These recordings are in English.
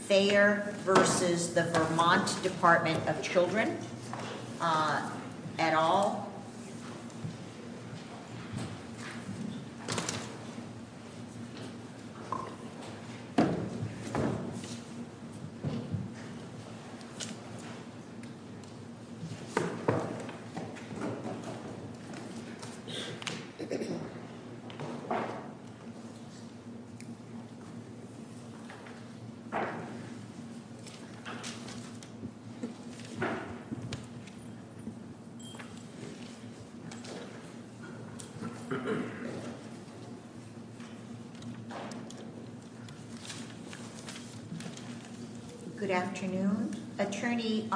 Thayer v. The Vermont Department of Children at all. Good afternoon. Attorney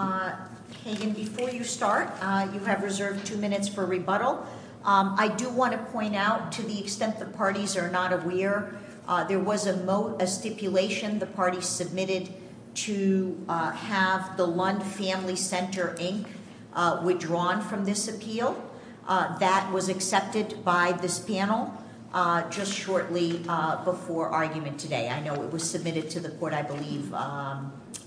Hagan, before you start, you have reserved two minutes for rebuttal. I do want to point out, to the extent the parties are not aware, there was a stipulation the party submitted to have the Lund Family Center, Inc. withdrawn from this appeal. That was accepted by this panel just shortly before argument today. I know it was submitted to the court, I believe,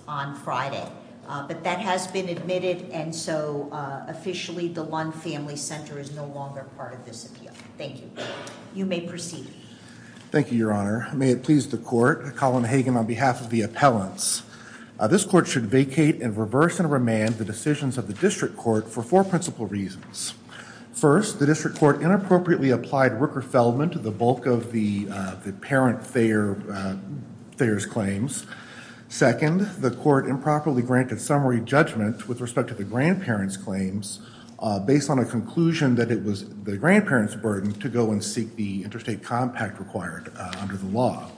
on Friday. But that has been admitted, and so officially the Lund Family Center is no longer part of this appeal. Thank you. You may proceed. Thank you, Your Honor. May it please the court, Colin Hagan, on behalf of the appellants. This court should vacate and reverse and remand the decisions of the district court for four principal reasons. First, the district court inappropriately applied Rooker-Feldman to the bulk of the parent Thayer's claims. Second, the court improperly granted summary judgment with respect to the grandparents' claims based on a conclusion that it was the grandparents' burden to go and seek the interstate compact required under the law.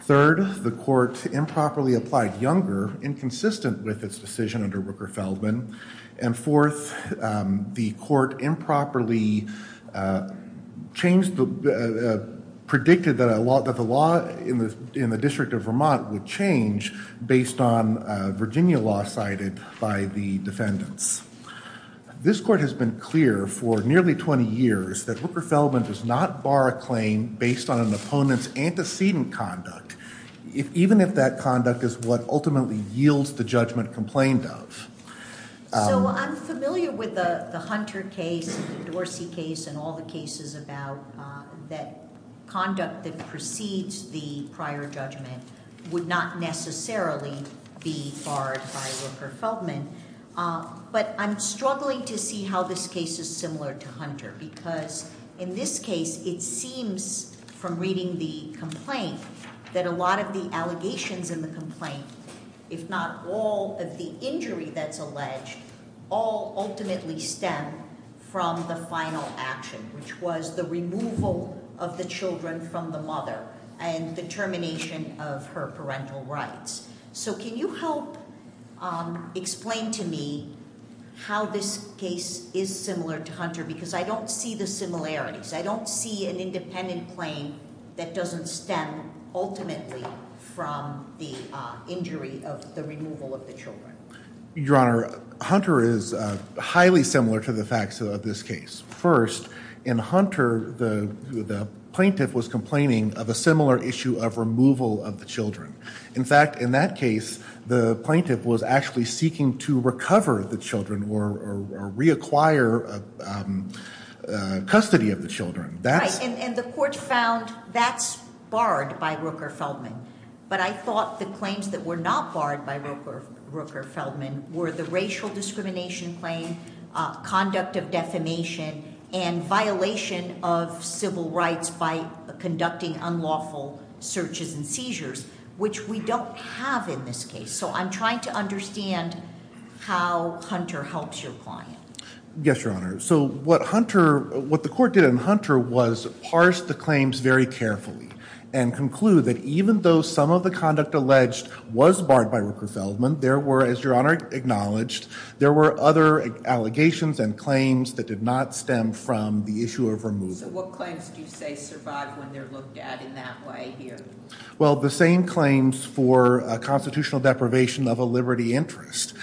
Third, the court improperly applied Younger inconsistent with its decision under Rooker-Feldman. And fourth, the court improperly predicted that the law in the District of Vermont would change based on Virginia law cited by the defendants. This court has been clear for nearly 20 years that Rooker-Feldman does not bar a claim based on an opponent's antecedent conduct, even if that conduct is what ultimately yields the judgment complained of. So I'm familiar with the Hunter case, the Dorsey case, and all the cases about that conduct that precedes the prior judgment would not necessarily be barred by Rooker-Feldman, but I'm struggling to see how this case is similar to Hunter because in this case it seems from reading the complaint that a lot of the allegations in the complaint, if not all of the injury that's alleged, all ultimately stem from the final action which was the removal of the children from the mother and the termination of her parental rights. So can you help explain to me how this case is similar to Hunter because I don't see the similarities. I don't see an independent claim that doesn't stem ultimately from the injury of the removal of the children. Your Honor, Hunter is highly similar to the facts of this case. First, in Hunter the plaintiff was complaining of a similar issue of removal of the children. In fact, in that case the plaintiff was actually seeking to recover the children or reacquire custody of the children. Right, and the court found that's barred by Rooker-Feldman, but I thought the claims that were not barred by Rooker-Feldman were the racial discrimination claim, conduct of defamation, and violation of civil rights by conducting unlawful searches and seizures, which we don't have in this case. So I'm trying to understand how Hunter helps your client. Yes, Your Honor. So what Hunter, what the court did in Hunter was parse the claims very carefully and conclude that even though some of the conduct alleged was barred by Rooker-Feldman, there were, as Your Honor acknowledged, there were other allegations and claims that did not stem from the issue of removal. So what claims do you say survive when they're looked at in that way here? Well, the same claims for constitutional deprivation of a liberty interest.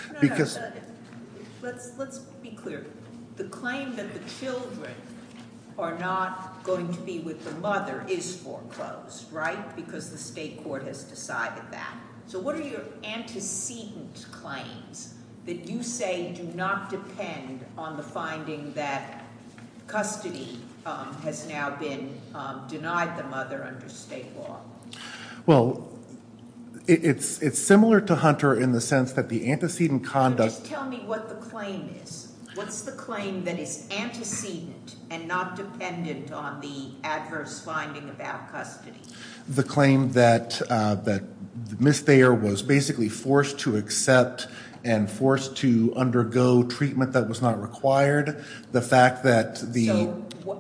Let's be clear. The claim that the children are not going to be with the mother is foreclosed, right, because the state court has decided that. So what are your antecedent claims that you say do not depend on the finding that custody has now been denied the mother under state law? Well, it's similar to Hunter in the sense that the antecedent conduct. Just tell me what the claim is. What's the claim that is antecedent and not dependent on the adverse finding about custody? The claim that Miss Thayer was basically forced to accept and forced to undergo treatment that was not required. The fact that the...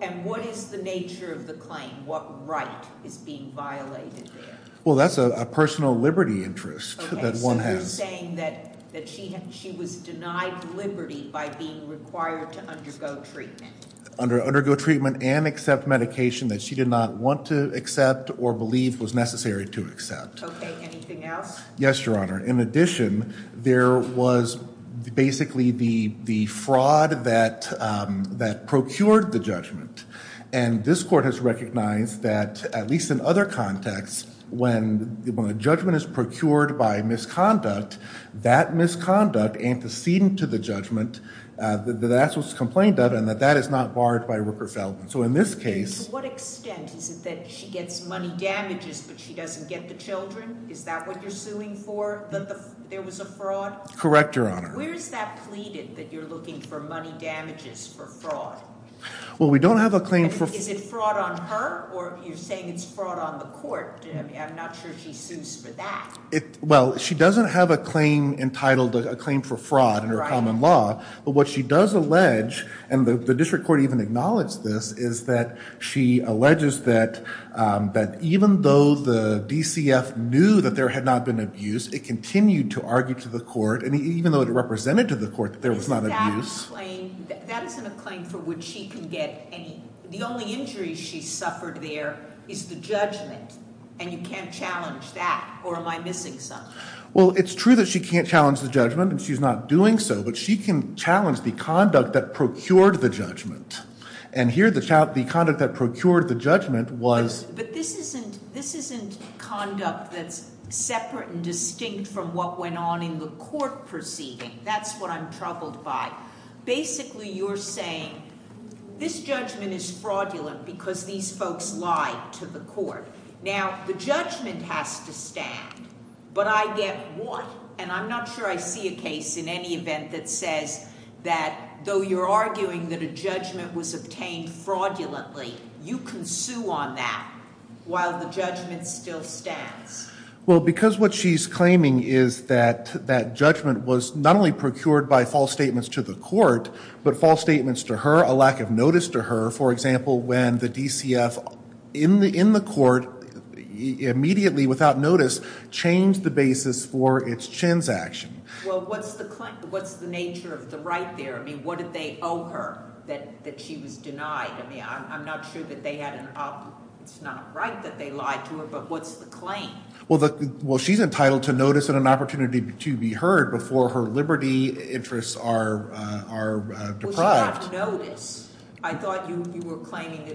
And what is the nature of the claim? What right is being violated there? Well, that's a personal liberty interest that one has. Okay, so you're saying that she was denied liberty by being required to undergo treatment. Under undergo treatment and accept medication that she did not want to accept or believe was necessary to accept. Okay, anything else? Yes, Your Honor. In addition, there was basically the fraud that procured the judgment. And this court has recognized that, at least in other contexts, when the judgment is procured by misconduct, that misconduct antecedent to the judgment, that that's what's complained of and that that is not barred by Rooker-Feldman. So in this case... To what extent is it that she gets money damages, but she doesn't get the children? Is that what you're suing for? That there was a fraud? Correct, Your Honor. Where's that pleaded that you're looking for money damages for fraud? Well, we don't have a claim for... Is it fraud on her or you're saying it's fraud on the court? I'm not sure she sues for that. Well, she doesn't have a claim entitled a claim for fraud under common law. But what she does allege, and the district court even acknowledged this, is that she alleges that even though the DCF knew that there had not been abuse, it continued to argue to the court, and even though it represented to the court that there was not abuse... Is that a claim? That isn't a claim for which she can get any... The only injury she suffered there is the judgment, and you can't challenge that? Or am I missing something? Well, it's true that she can't challenge the judgment and she's not doing so, but she can challenge the conduct that procured the judgment. And here the conduct that procured the judgment was... But this isn't conduct that's separate and distinct from what went on in the court proceeding. That's what I'm troubled by. Basically, you're saying this judgment is fraudulent because these folks lied to the court. Now, the judgment has to stand, but I get what? And I'm not sure I see a case in any event that says that though you're arguing that a judgment was obtained fraudulently, you can sue on that while the judgment still stands. Well, because what she's claiming is that that judgment was not only procured by false statements to the court, but false statements to her, a lack of notice to her, for example, when the DCF in the court immediately, without notice, changed the basis for its transaction. Well, what's the claim? What's the nature of the right there? I mean, what did they owe her that she was denied? I mean, I'm not sure that they had an... It's not right that they lied to her, but what's the claim? Well, she's entitled to notice and an opportunity to be heard before her liberty interests are deprived. Well, she got notice. I thought you were claiming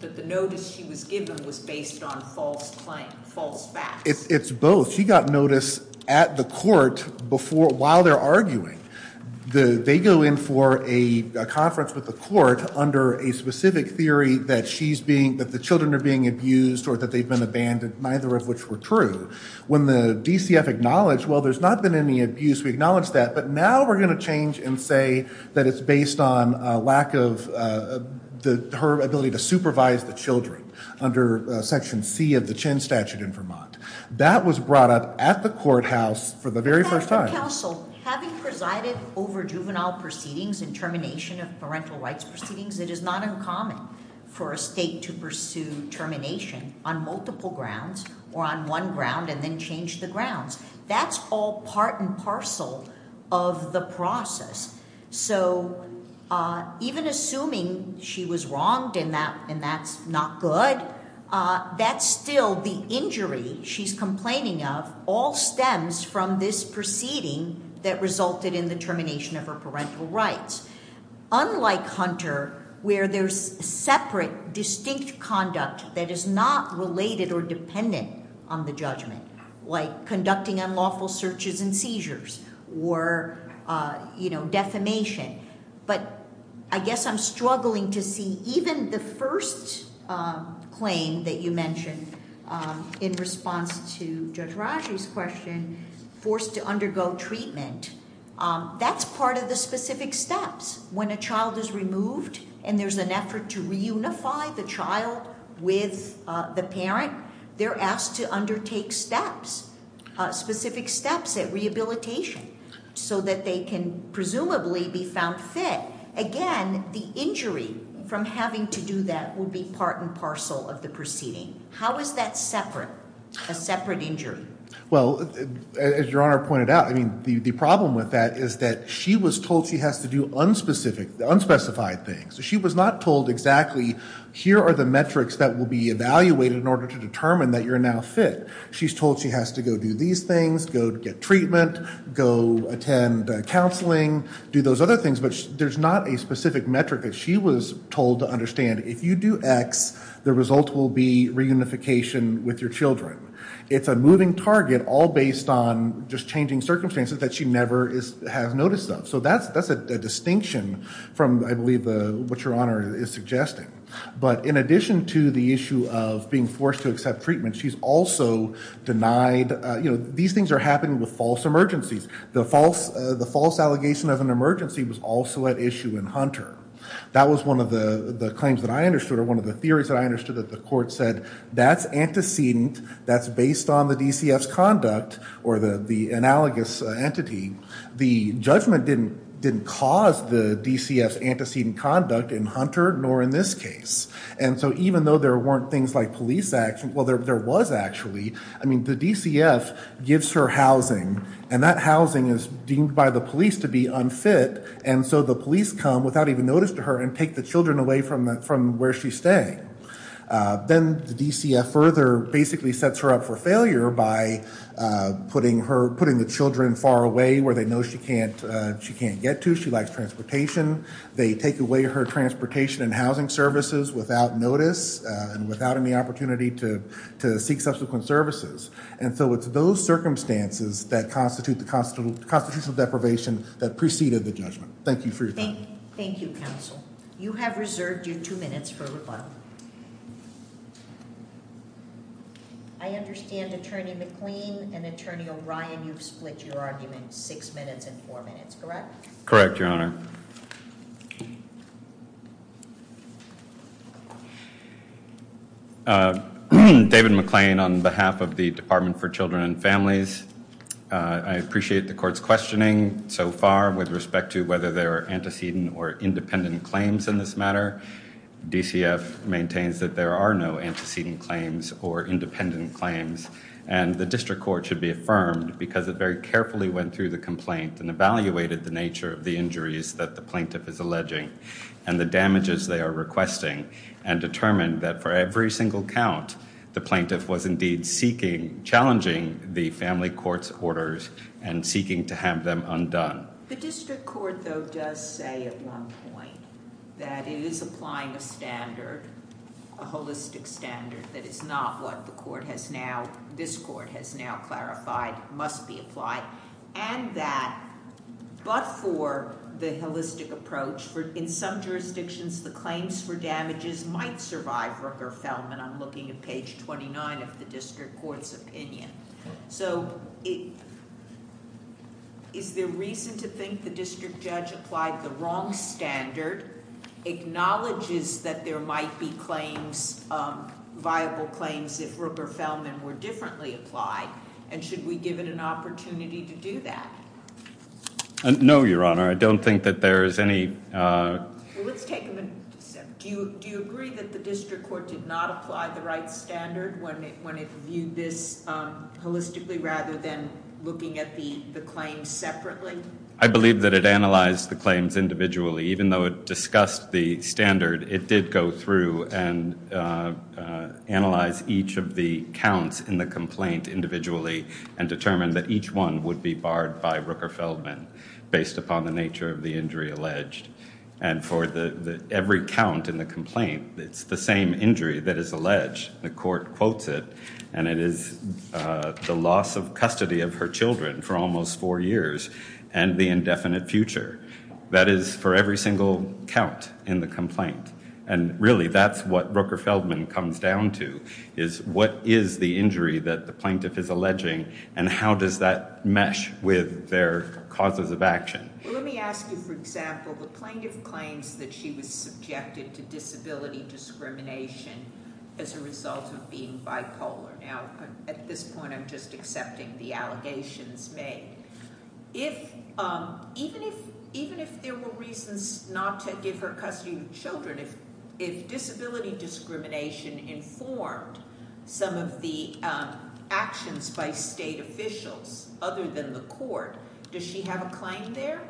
that the notice she was given was based on false claim, false facts. It's both. She got notice at the court while they're arguing. They go in for a conference with the court under a specific theory that the children are being abused or that they've been abandoned, neither of which were true. When the DCF acknowledged, well, there's not been any abuse, we acknowledge that, but now we're going to change and say that it's based on her ability to supervise the children under section C of the Chen statute in Vermont. That was brought up at the courthouse for the very first time. Counsel, having presided over juvenile proceedings and termination of parental rights proceedings, it is not uncommon for a state to pursue termination on multiple grounds or on one ground and then change the grounds. That's all part and parcel of the process. So even assuming she was wronged and that's not good, that's still the injury she's complaining of all stems from this proceeding that resulted in the termination of her parental rights. Unlike Hunter, where there's separate distinct conduct that is not related or dependent on the judgment, like unlawful searches and seizures or defamation. But I guess I'm struggling to see even the first claim that you mentioned in response to Judge Raji's question, forced to undergo treatment, that's part of the specific steps. When a child is removed and there's an effort to reunify the child with the parent, they're asked to undertake steps, specific steps at rehabilitation so that they can presumably be found fit. Again, the injury from having to do that would be part and parcel of the proceeding. How is that separate, a separate injury? Well, as your honor pointed out, I mean the problem with that is that she was told she has to do unspecified things. She was not told exactly here are the metrics that will be evaluated in order to determine that you're now fit. She's told she has to go do these things, go get treatment, go attend counseling, do those other things, but there's not a specific metric that she was told to understand. If you do X, the result will be reunification with your children. It's a moving target all based on just changing circumstances that she never is has noticed of. So that's that's a distinction from, I believe, what your honor is suggesting. But in addition to the issue of being forced to accept treatment, she's also denied, you know, these things are happening with false emergencies. The false the false allegation of an emergency was also at issue in Hunter. That was one of the the claims that I understood or one of the theories that I understood that the court said that's antecedent, that's based on the DCF's conduct or the the analogous entity. The judgment didn't didn't cause the DCF's antecedent conduct in Hunter nor in this case. And so even though there weren't things like police action, well there was actually. I mean the DCF gives her housing and that housing is deemed by the police to be unfit and so the police come without even notice to her and take the children away from that from where she's staying. Then the DCF further basically sets her up for failure by putting her putting the children far away where they know she can't she can't get to. She likes transportation. They take her transportation and housing services without notice and without any opportunity to to seek subsequent services. And so it's those circumstances that constitute the constitutional deprivation that preceded the judgment. Thank you for your time. Thank you counsel. You have reserved your two minutes for rebuttal. I understand attorney McLean and attorney O'Brien you've split your argument six minutes and four minutes correct? Correct your honor. David McLean on behalf of the Department for Children and Families. I appreciate the court's questioning so far with respect to whether there are antecedent or independent claims in this matter. DCF maintains that there are no antecedent claims or independent claims and the district court should be affirmed because it very carefully went through the complaint and evaluated the nature of the injuries that the plaintiff is alleging and the damages they are requesting and determined that for every single count the plaintiff was indeed seeking challenging the family court's orders and seeking to have them undone. The district court though does say at one point that it is applying a standard a holistic standard that is not what the court has now this court has now clarified must be applied and that but for the holistic approach for in some jurisdictions the claims for damages might survive Rooker-Felman. I'm looking at page 29 of the district court's opinion. So is there reason to think the district judge applied the wrong standard acknowledges that there might be claims viable claims if Rooker-Felman were differently applied and should we give it an opportunity to do that? No your honor I don't think that there is any let's take a minute do you do you agree that the district court did not apply the right standard when it when it viewed this holistically rather than looking at the the claims separately? I discussed the standard it did go through and analyze each of the counts in the complaint individually and determine that each one would be barred by Rooker-Felman based upon the nature of the injury alleged and for the every count in the complaint it's the same injury that is alleged the court quotes it and it is the loss of custody of her children for almost four years and the indefinite future that is for every single count in the complaint and really that's what Rooker-Felman comes down to is what is the injury that the plaintiff is alleging and how does that mesh with their causes of action? Well let me ask you for example the plaintiff claims that she was subjected to disability discrimination as a result of being if even if even if there were reasons not to give her custody of children if if disability discrimination informed some of the actions by state officials other than the court does she have a claim there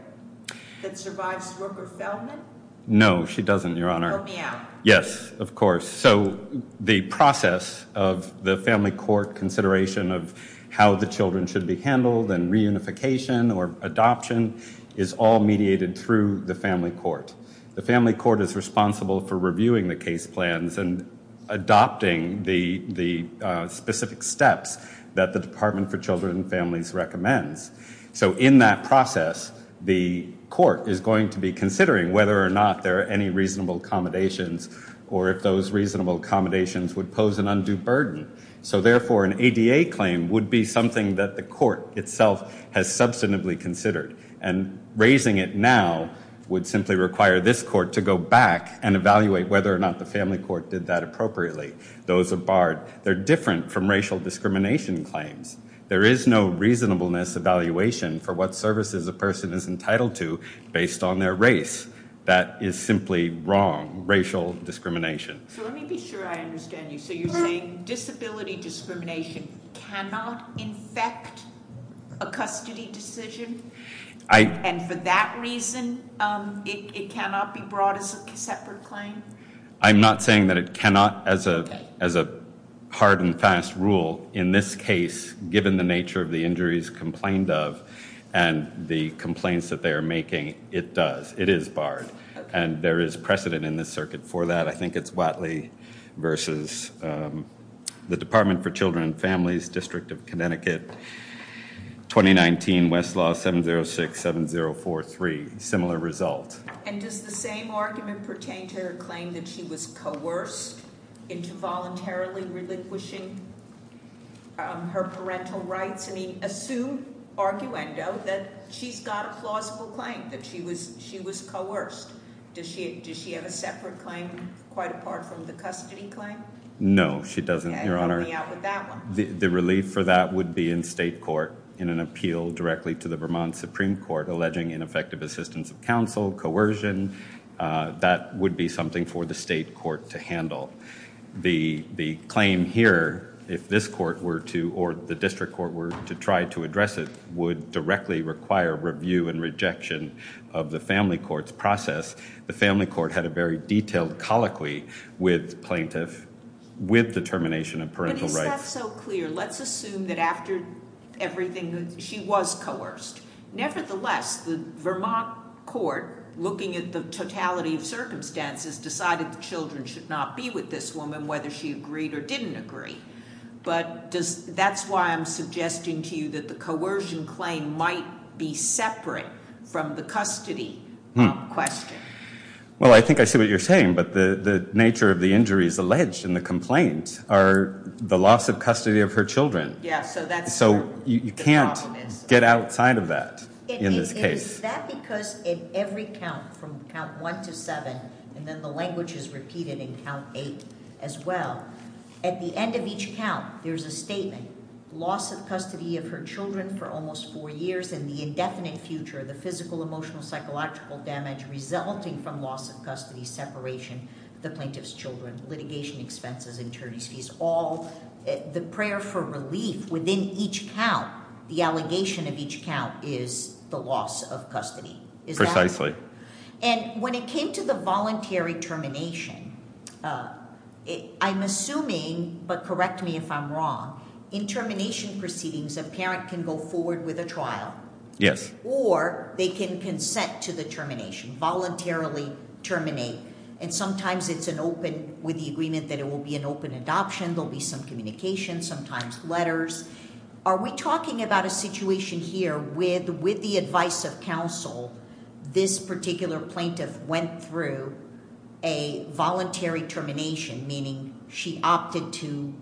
that survives Rooker-Felman? No she doesn't your honor. Help me out. Yes of course so the process of the family court consideration of how the children should be handled and reunification or adoption is all mediated through the family court. The family court is responsible for reviewing the case plans and adopting the the specific steps that the department for children and families recommends. So in that process the court is going to be considering whether or not there are any reasonable accommodations or if those reasonable accommodations would pose an burden. So therefore an ADA claim would be something that the court itself has substantively considered and raising it now would simply require this court to go back and evaluate whether or not the family court did that appropriately. Those are barred. They're different from racial discrimination claims. There is no reasonableness evaluation for what services a person is entitled to based on their race. That is simply wrong racial discrimination. So let me be sure I understand you so you're saying disability discrimination cannot infect a custody decision and for that reason it cannot be brought as a separate claim? I'm not saying that it cannot as a as a hard and fast rule in this case given the nature of the injuries complained of and the complaints that they are making it does it is barred and there is precedent in this circuit for that. I think it's Watley versus the Department for Children and Families District of Connecticut 2019 Westlaw 7067043 similar result. And does the same argument pertain to her claim that she was coerced into voluntarily relinquishing her parental rights? I mean assume arguendo that she's got a plausible claim that she was she was coerced. Does she does she have a separate claim quite apart from the custody claim? No she doesn't your honor. The relief for that would be in state court in an appeal directly to the Vermont Supreme Court alleging ineffective assistance of counsel, coercion. That would be something for the state court to handle. The the claim here if this court were to or the district court were to try to address it would directly require review and of the family court's process. The family court had a very detailed colloquy with plaintiff with determination of parental rights. But is that so clear? Let's assume that after everything she was coerced. Nevertheless the Vermont court looking at the totality of circumstances decided the children should not be with this woman whether she agreed or didn't agree. But does that's why I'm suggesting to you that the coercion claim might be separate from the custody question. Well I think I see what you're saying but the the nature of the injuries alleged in the complaint are the loss of custody of her children. Yeah so that's so you can't get outside of that in this case. Is that because in every count from count one to seven and then the language is repeated in eight as well. At the end of each count there's a statement loss of custody of her children for almost four years and the indefinite future the physical emotional psychological damage resulting from loss of custody separation the plaintiff's children litigation expenses attorney's fees all the prayer for relief within each count the allegation of each count is the custody is precisely and when it came to the voluntary termination I'm assuming but correct me if I'm wrong in termination proceedings a parent can go forward with a trial yes or they can consent to the termination voluntarily terminate and sometimes it's an open with the agreement that it will be an open adoption there'll be some communication sometimes letters are we talking about a situation here with with the advice of counsel this particular plaintiff went through a voluntary termination meaning she opted to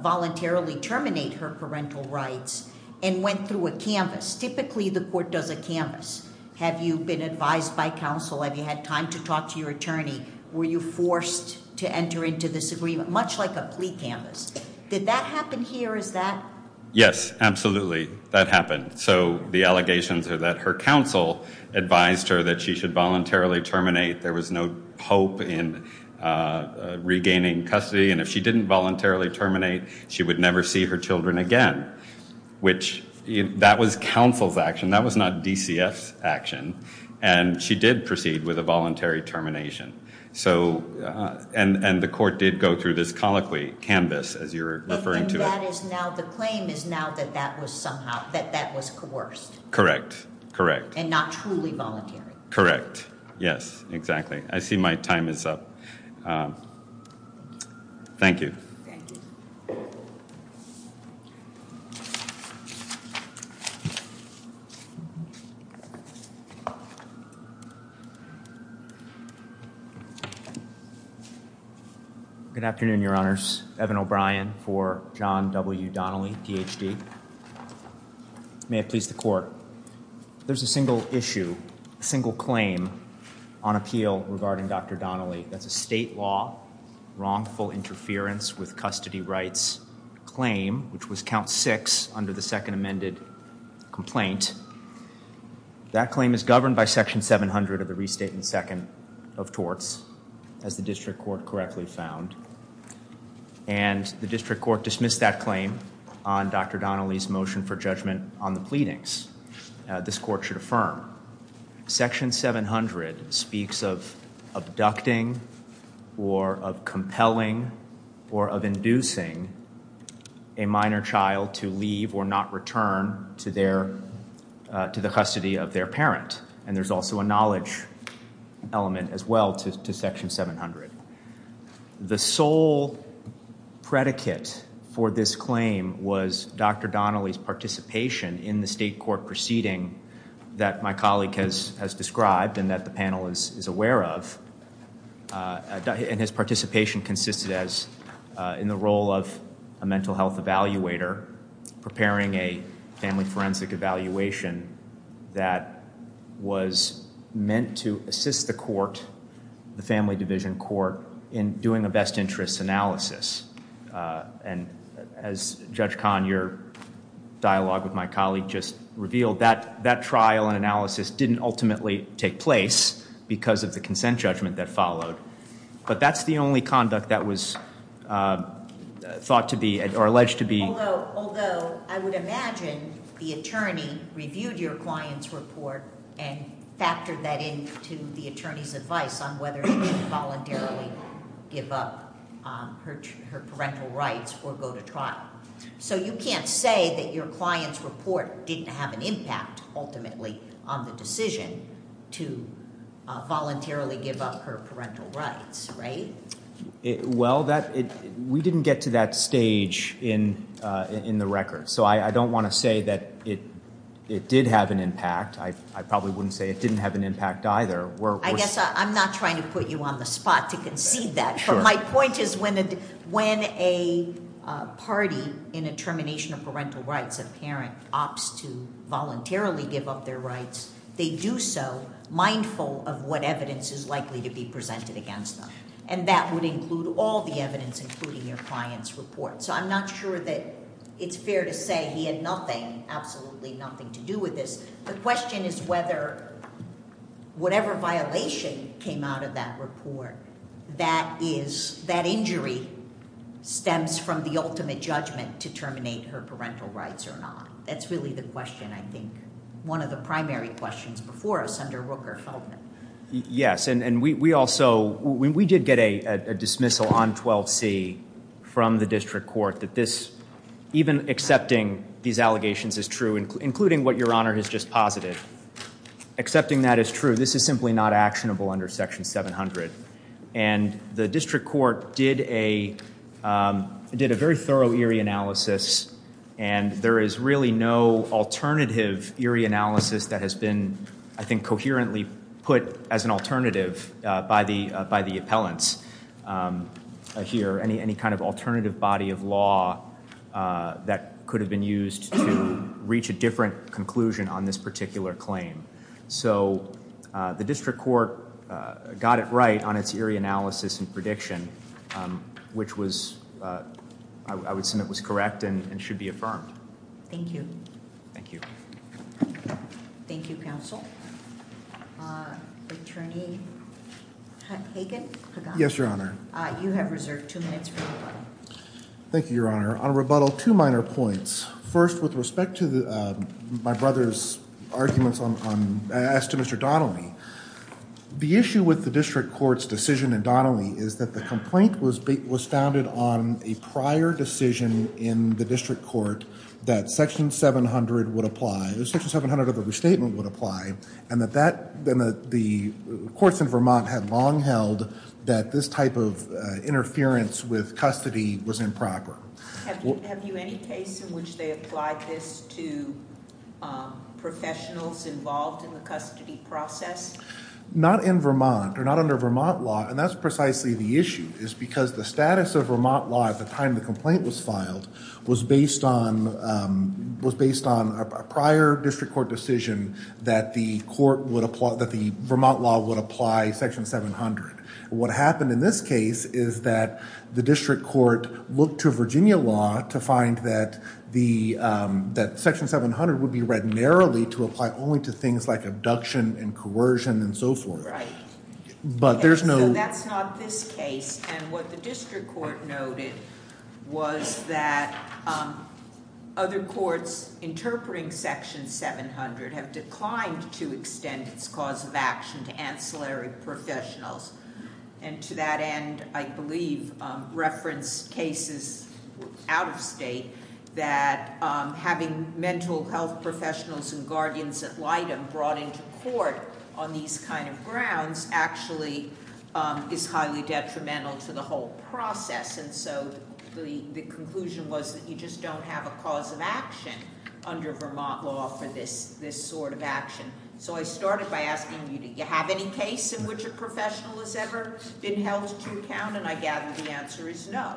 voluntarily terminate her parental rights and went through a canvas typically the court does a canvas have you been advised by counsel have you had time to talk to your attorney were you forced to enter into this agreement much like a plea canvas did that happen here is that yes absolutely that happened so the allegations are that her counsel advised her that she should voluntarily terminate there was no hope in uh regaining custody and if she didn't voluntarily terminate she would never see her children again which that was counsel's action that was not dcf action and she did proceed with a voluntary termination so and and the court did go through this colloquy canvas as you're referring to it that is now the claim is now that that was somehow that that was coerced correct correct and not truly voluntary correct yes exactly i see my time is up um thank you good afternoon your honors evan o'brien for john w donnelly phd may have pleased the court there's a single issue a single claim on appeal regarding dr donnelly that's a state law wrongful interference with custody rights claim which was count six under the second amended complaint that claim is governed by section 700 of the restatement second of torts as the district court correctly found and the district court dismissed that claim on dr donnelly's motion for judgment on the pleadings this court should affirm section 700 speaks of abducting or of compelling or of inducing a minor child to leave or not return to their uh to the custody of their parent and there's also a knowledge element as well to section 700 the sole predicate for this claim was dr donnelly's participation in the state court proceeding that my colleague has has described and that the panel is is aware of and his participation consisted as in the role of a mental health evaluator preparing a family evaluation that was meant to assist the court the family division court in doing a best interest analysis and as judge khan your dialogue with my colleague just revealed that that trial and analysis didn't ultimately take place because of the consent judgment that followed but that's the attorney reviewed your client's report and factored that into the attorney's advice on whether he could voluntarily give up her her parental rights or go to trial so you can't say that your client's report didn't have an impact ultimately on the decision to voluntarily give up her parental rights right it well that it we didn't get to that stage in uh in the record so i don't want to say that it it did have an impact i i probably wouldn't say it didn't have an impact either where i guess i'm not trying to put you on the spot to concede that but my point is when when a uh party in a termination of parental rights a parent opts to voluntarily give up their rights they do so mindful of what evidence is likely to be presented against them and that would include all the evidence including your client's report so i'm not sure that it's fair to say he had nothing absolutely nothing to do with this the question is whether whatever violation came out of that report that is that injury stems from the ultimate judgment to terminate her parental rights or not that's really the question i think one of the primary questions before us under rooker felt yes and and we we also we did get a a dismissal on 12c from the district court that this even accepting these allegations is true including what your honor has just posited accepting that is true this is simply not actionable under section 700 and the district court did a um did a very thorough eerie analysis and there is really no alternative eerie analysis that has been i think coherently put as an alternative uh by the by the appellants um here any any kind of alternative body of law uh that could have been used to reach a different conclusion on this particular claim so uh the district court got it right on its eerie analysis and prediction um which was uh i would assume it was correct and should be affirmed thank you thank you thank you counsel uh attorney hagan yes your honor uh you have reserved two minutes thank you your honor on rebuttal two minor points first with respect to the uh my brother's arguments on asked to mr donnelly the issue with the district court's decision and donnelly is the complaint was was founded on a prior decision in the district court that section 700 would apply section 700 of the restatement would apply and that that then the courts in vermont had long held that this type of interference with custody was improper have you any case in which they applied this to um professionals involved in the custody process not in vermont or not under vermont law and that's precisely the issue is because the status of vermont law at the time the complaint was filed was based on um was based on a prior district court decision that the court would apply that the vermont law would apply section 700 what happened in this case is that the district court looked to virginia law to find that the um that section 700 would be read narrowly to apply only to things like abduction and coercion and so forth right but there's no that's not this case and what the district court noted was that um other courts interpreting section 700 have declined to extend its cause of action to ancillary professionals and to that end i believe um reference cases out of state that um having mental health professionals and guardians at light and brought into court on these kind of grounds actually um is highly detrimental to the whole process and so the the conclusion was that you just don't have a cause of action under vermont law for this this sort of action so i started by asking you do you ever been held to account and i gather the answer is no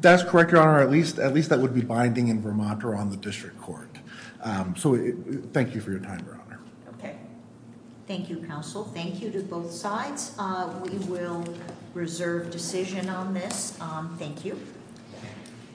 that's correct your honor at least at least that would be binding in vermont or on the district court um so thank you for your time your honor okay thank you counsel thank you to both sides uh we will reserve decision on this um thank you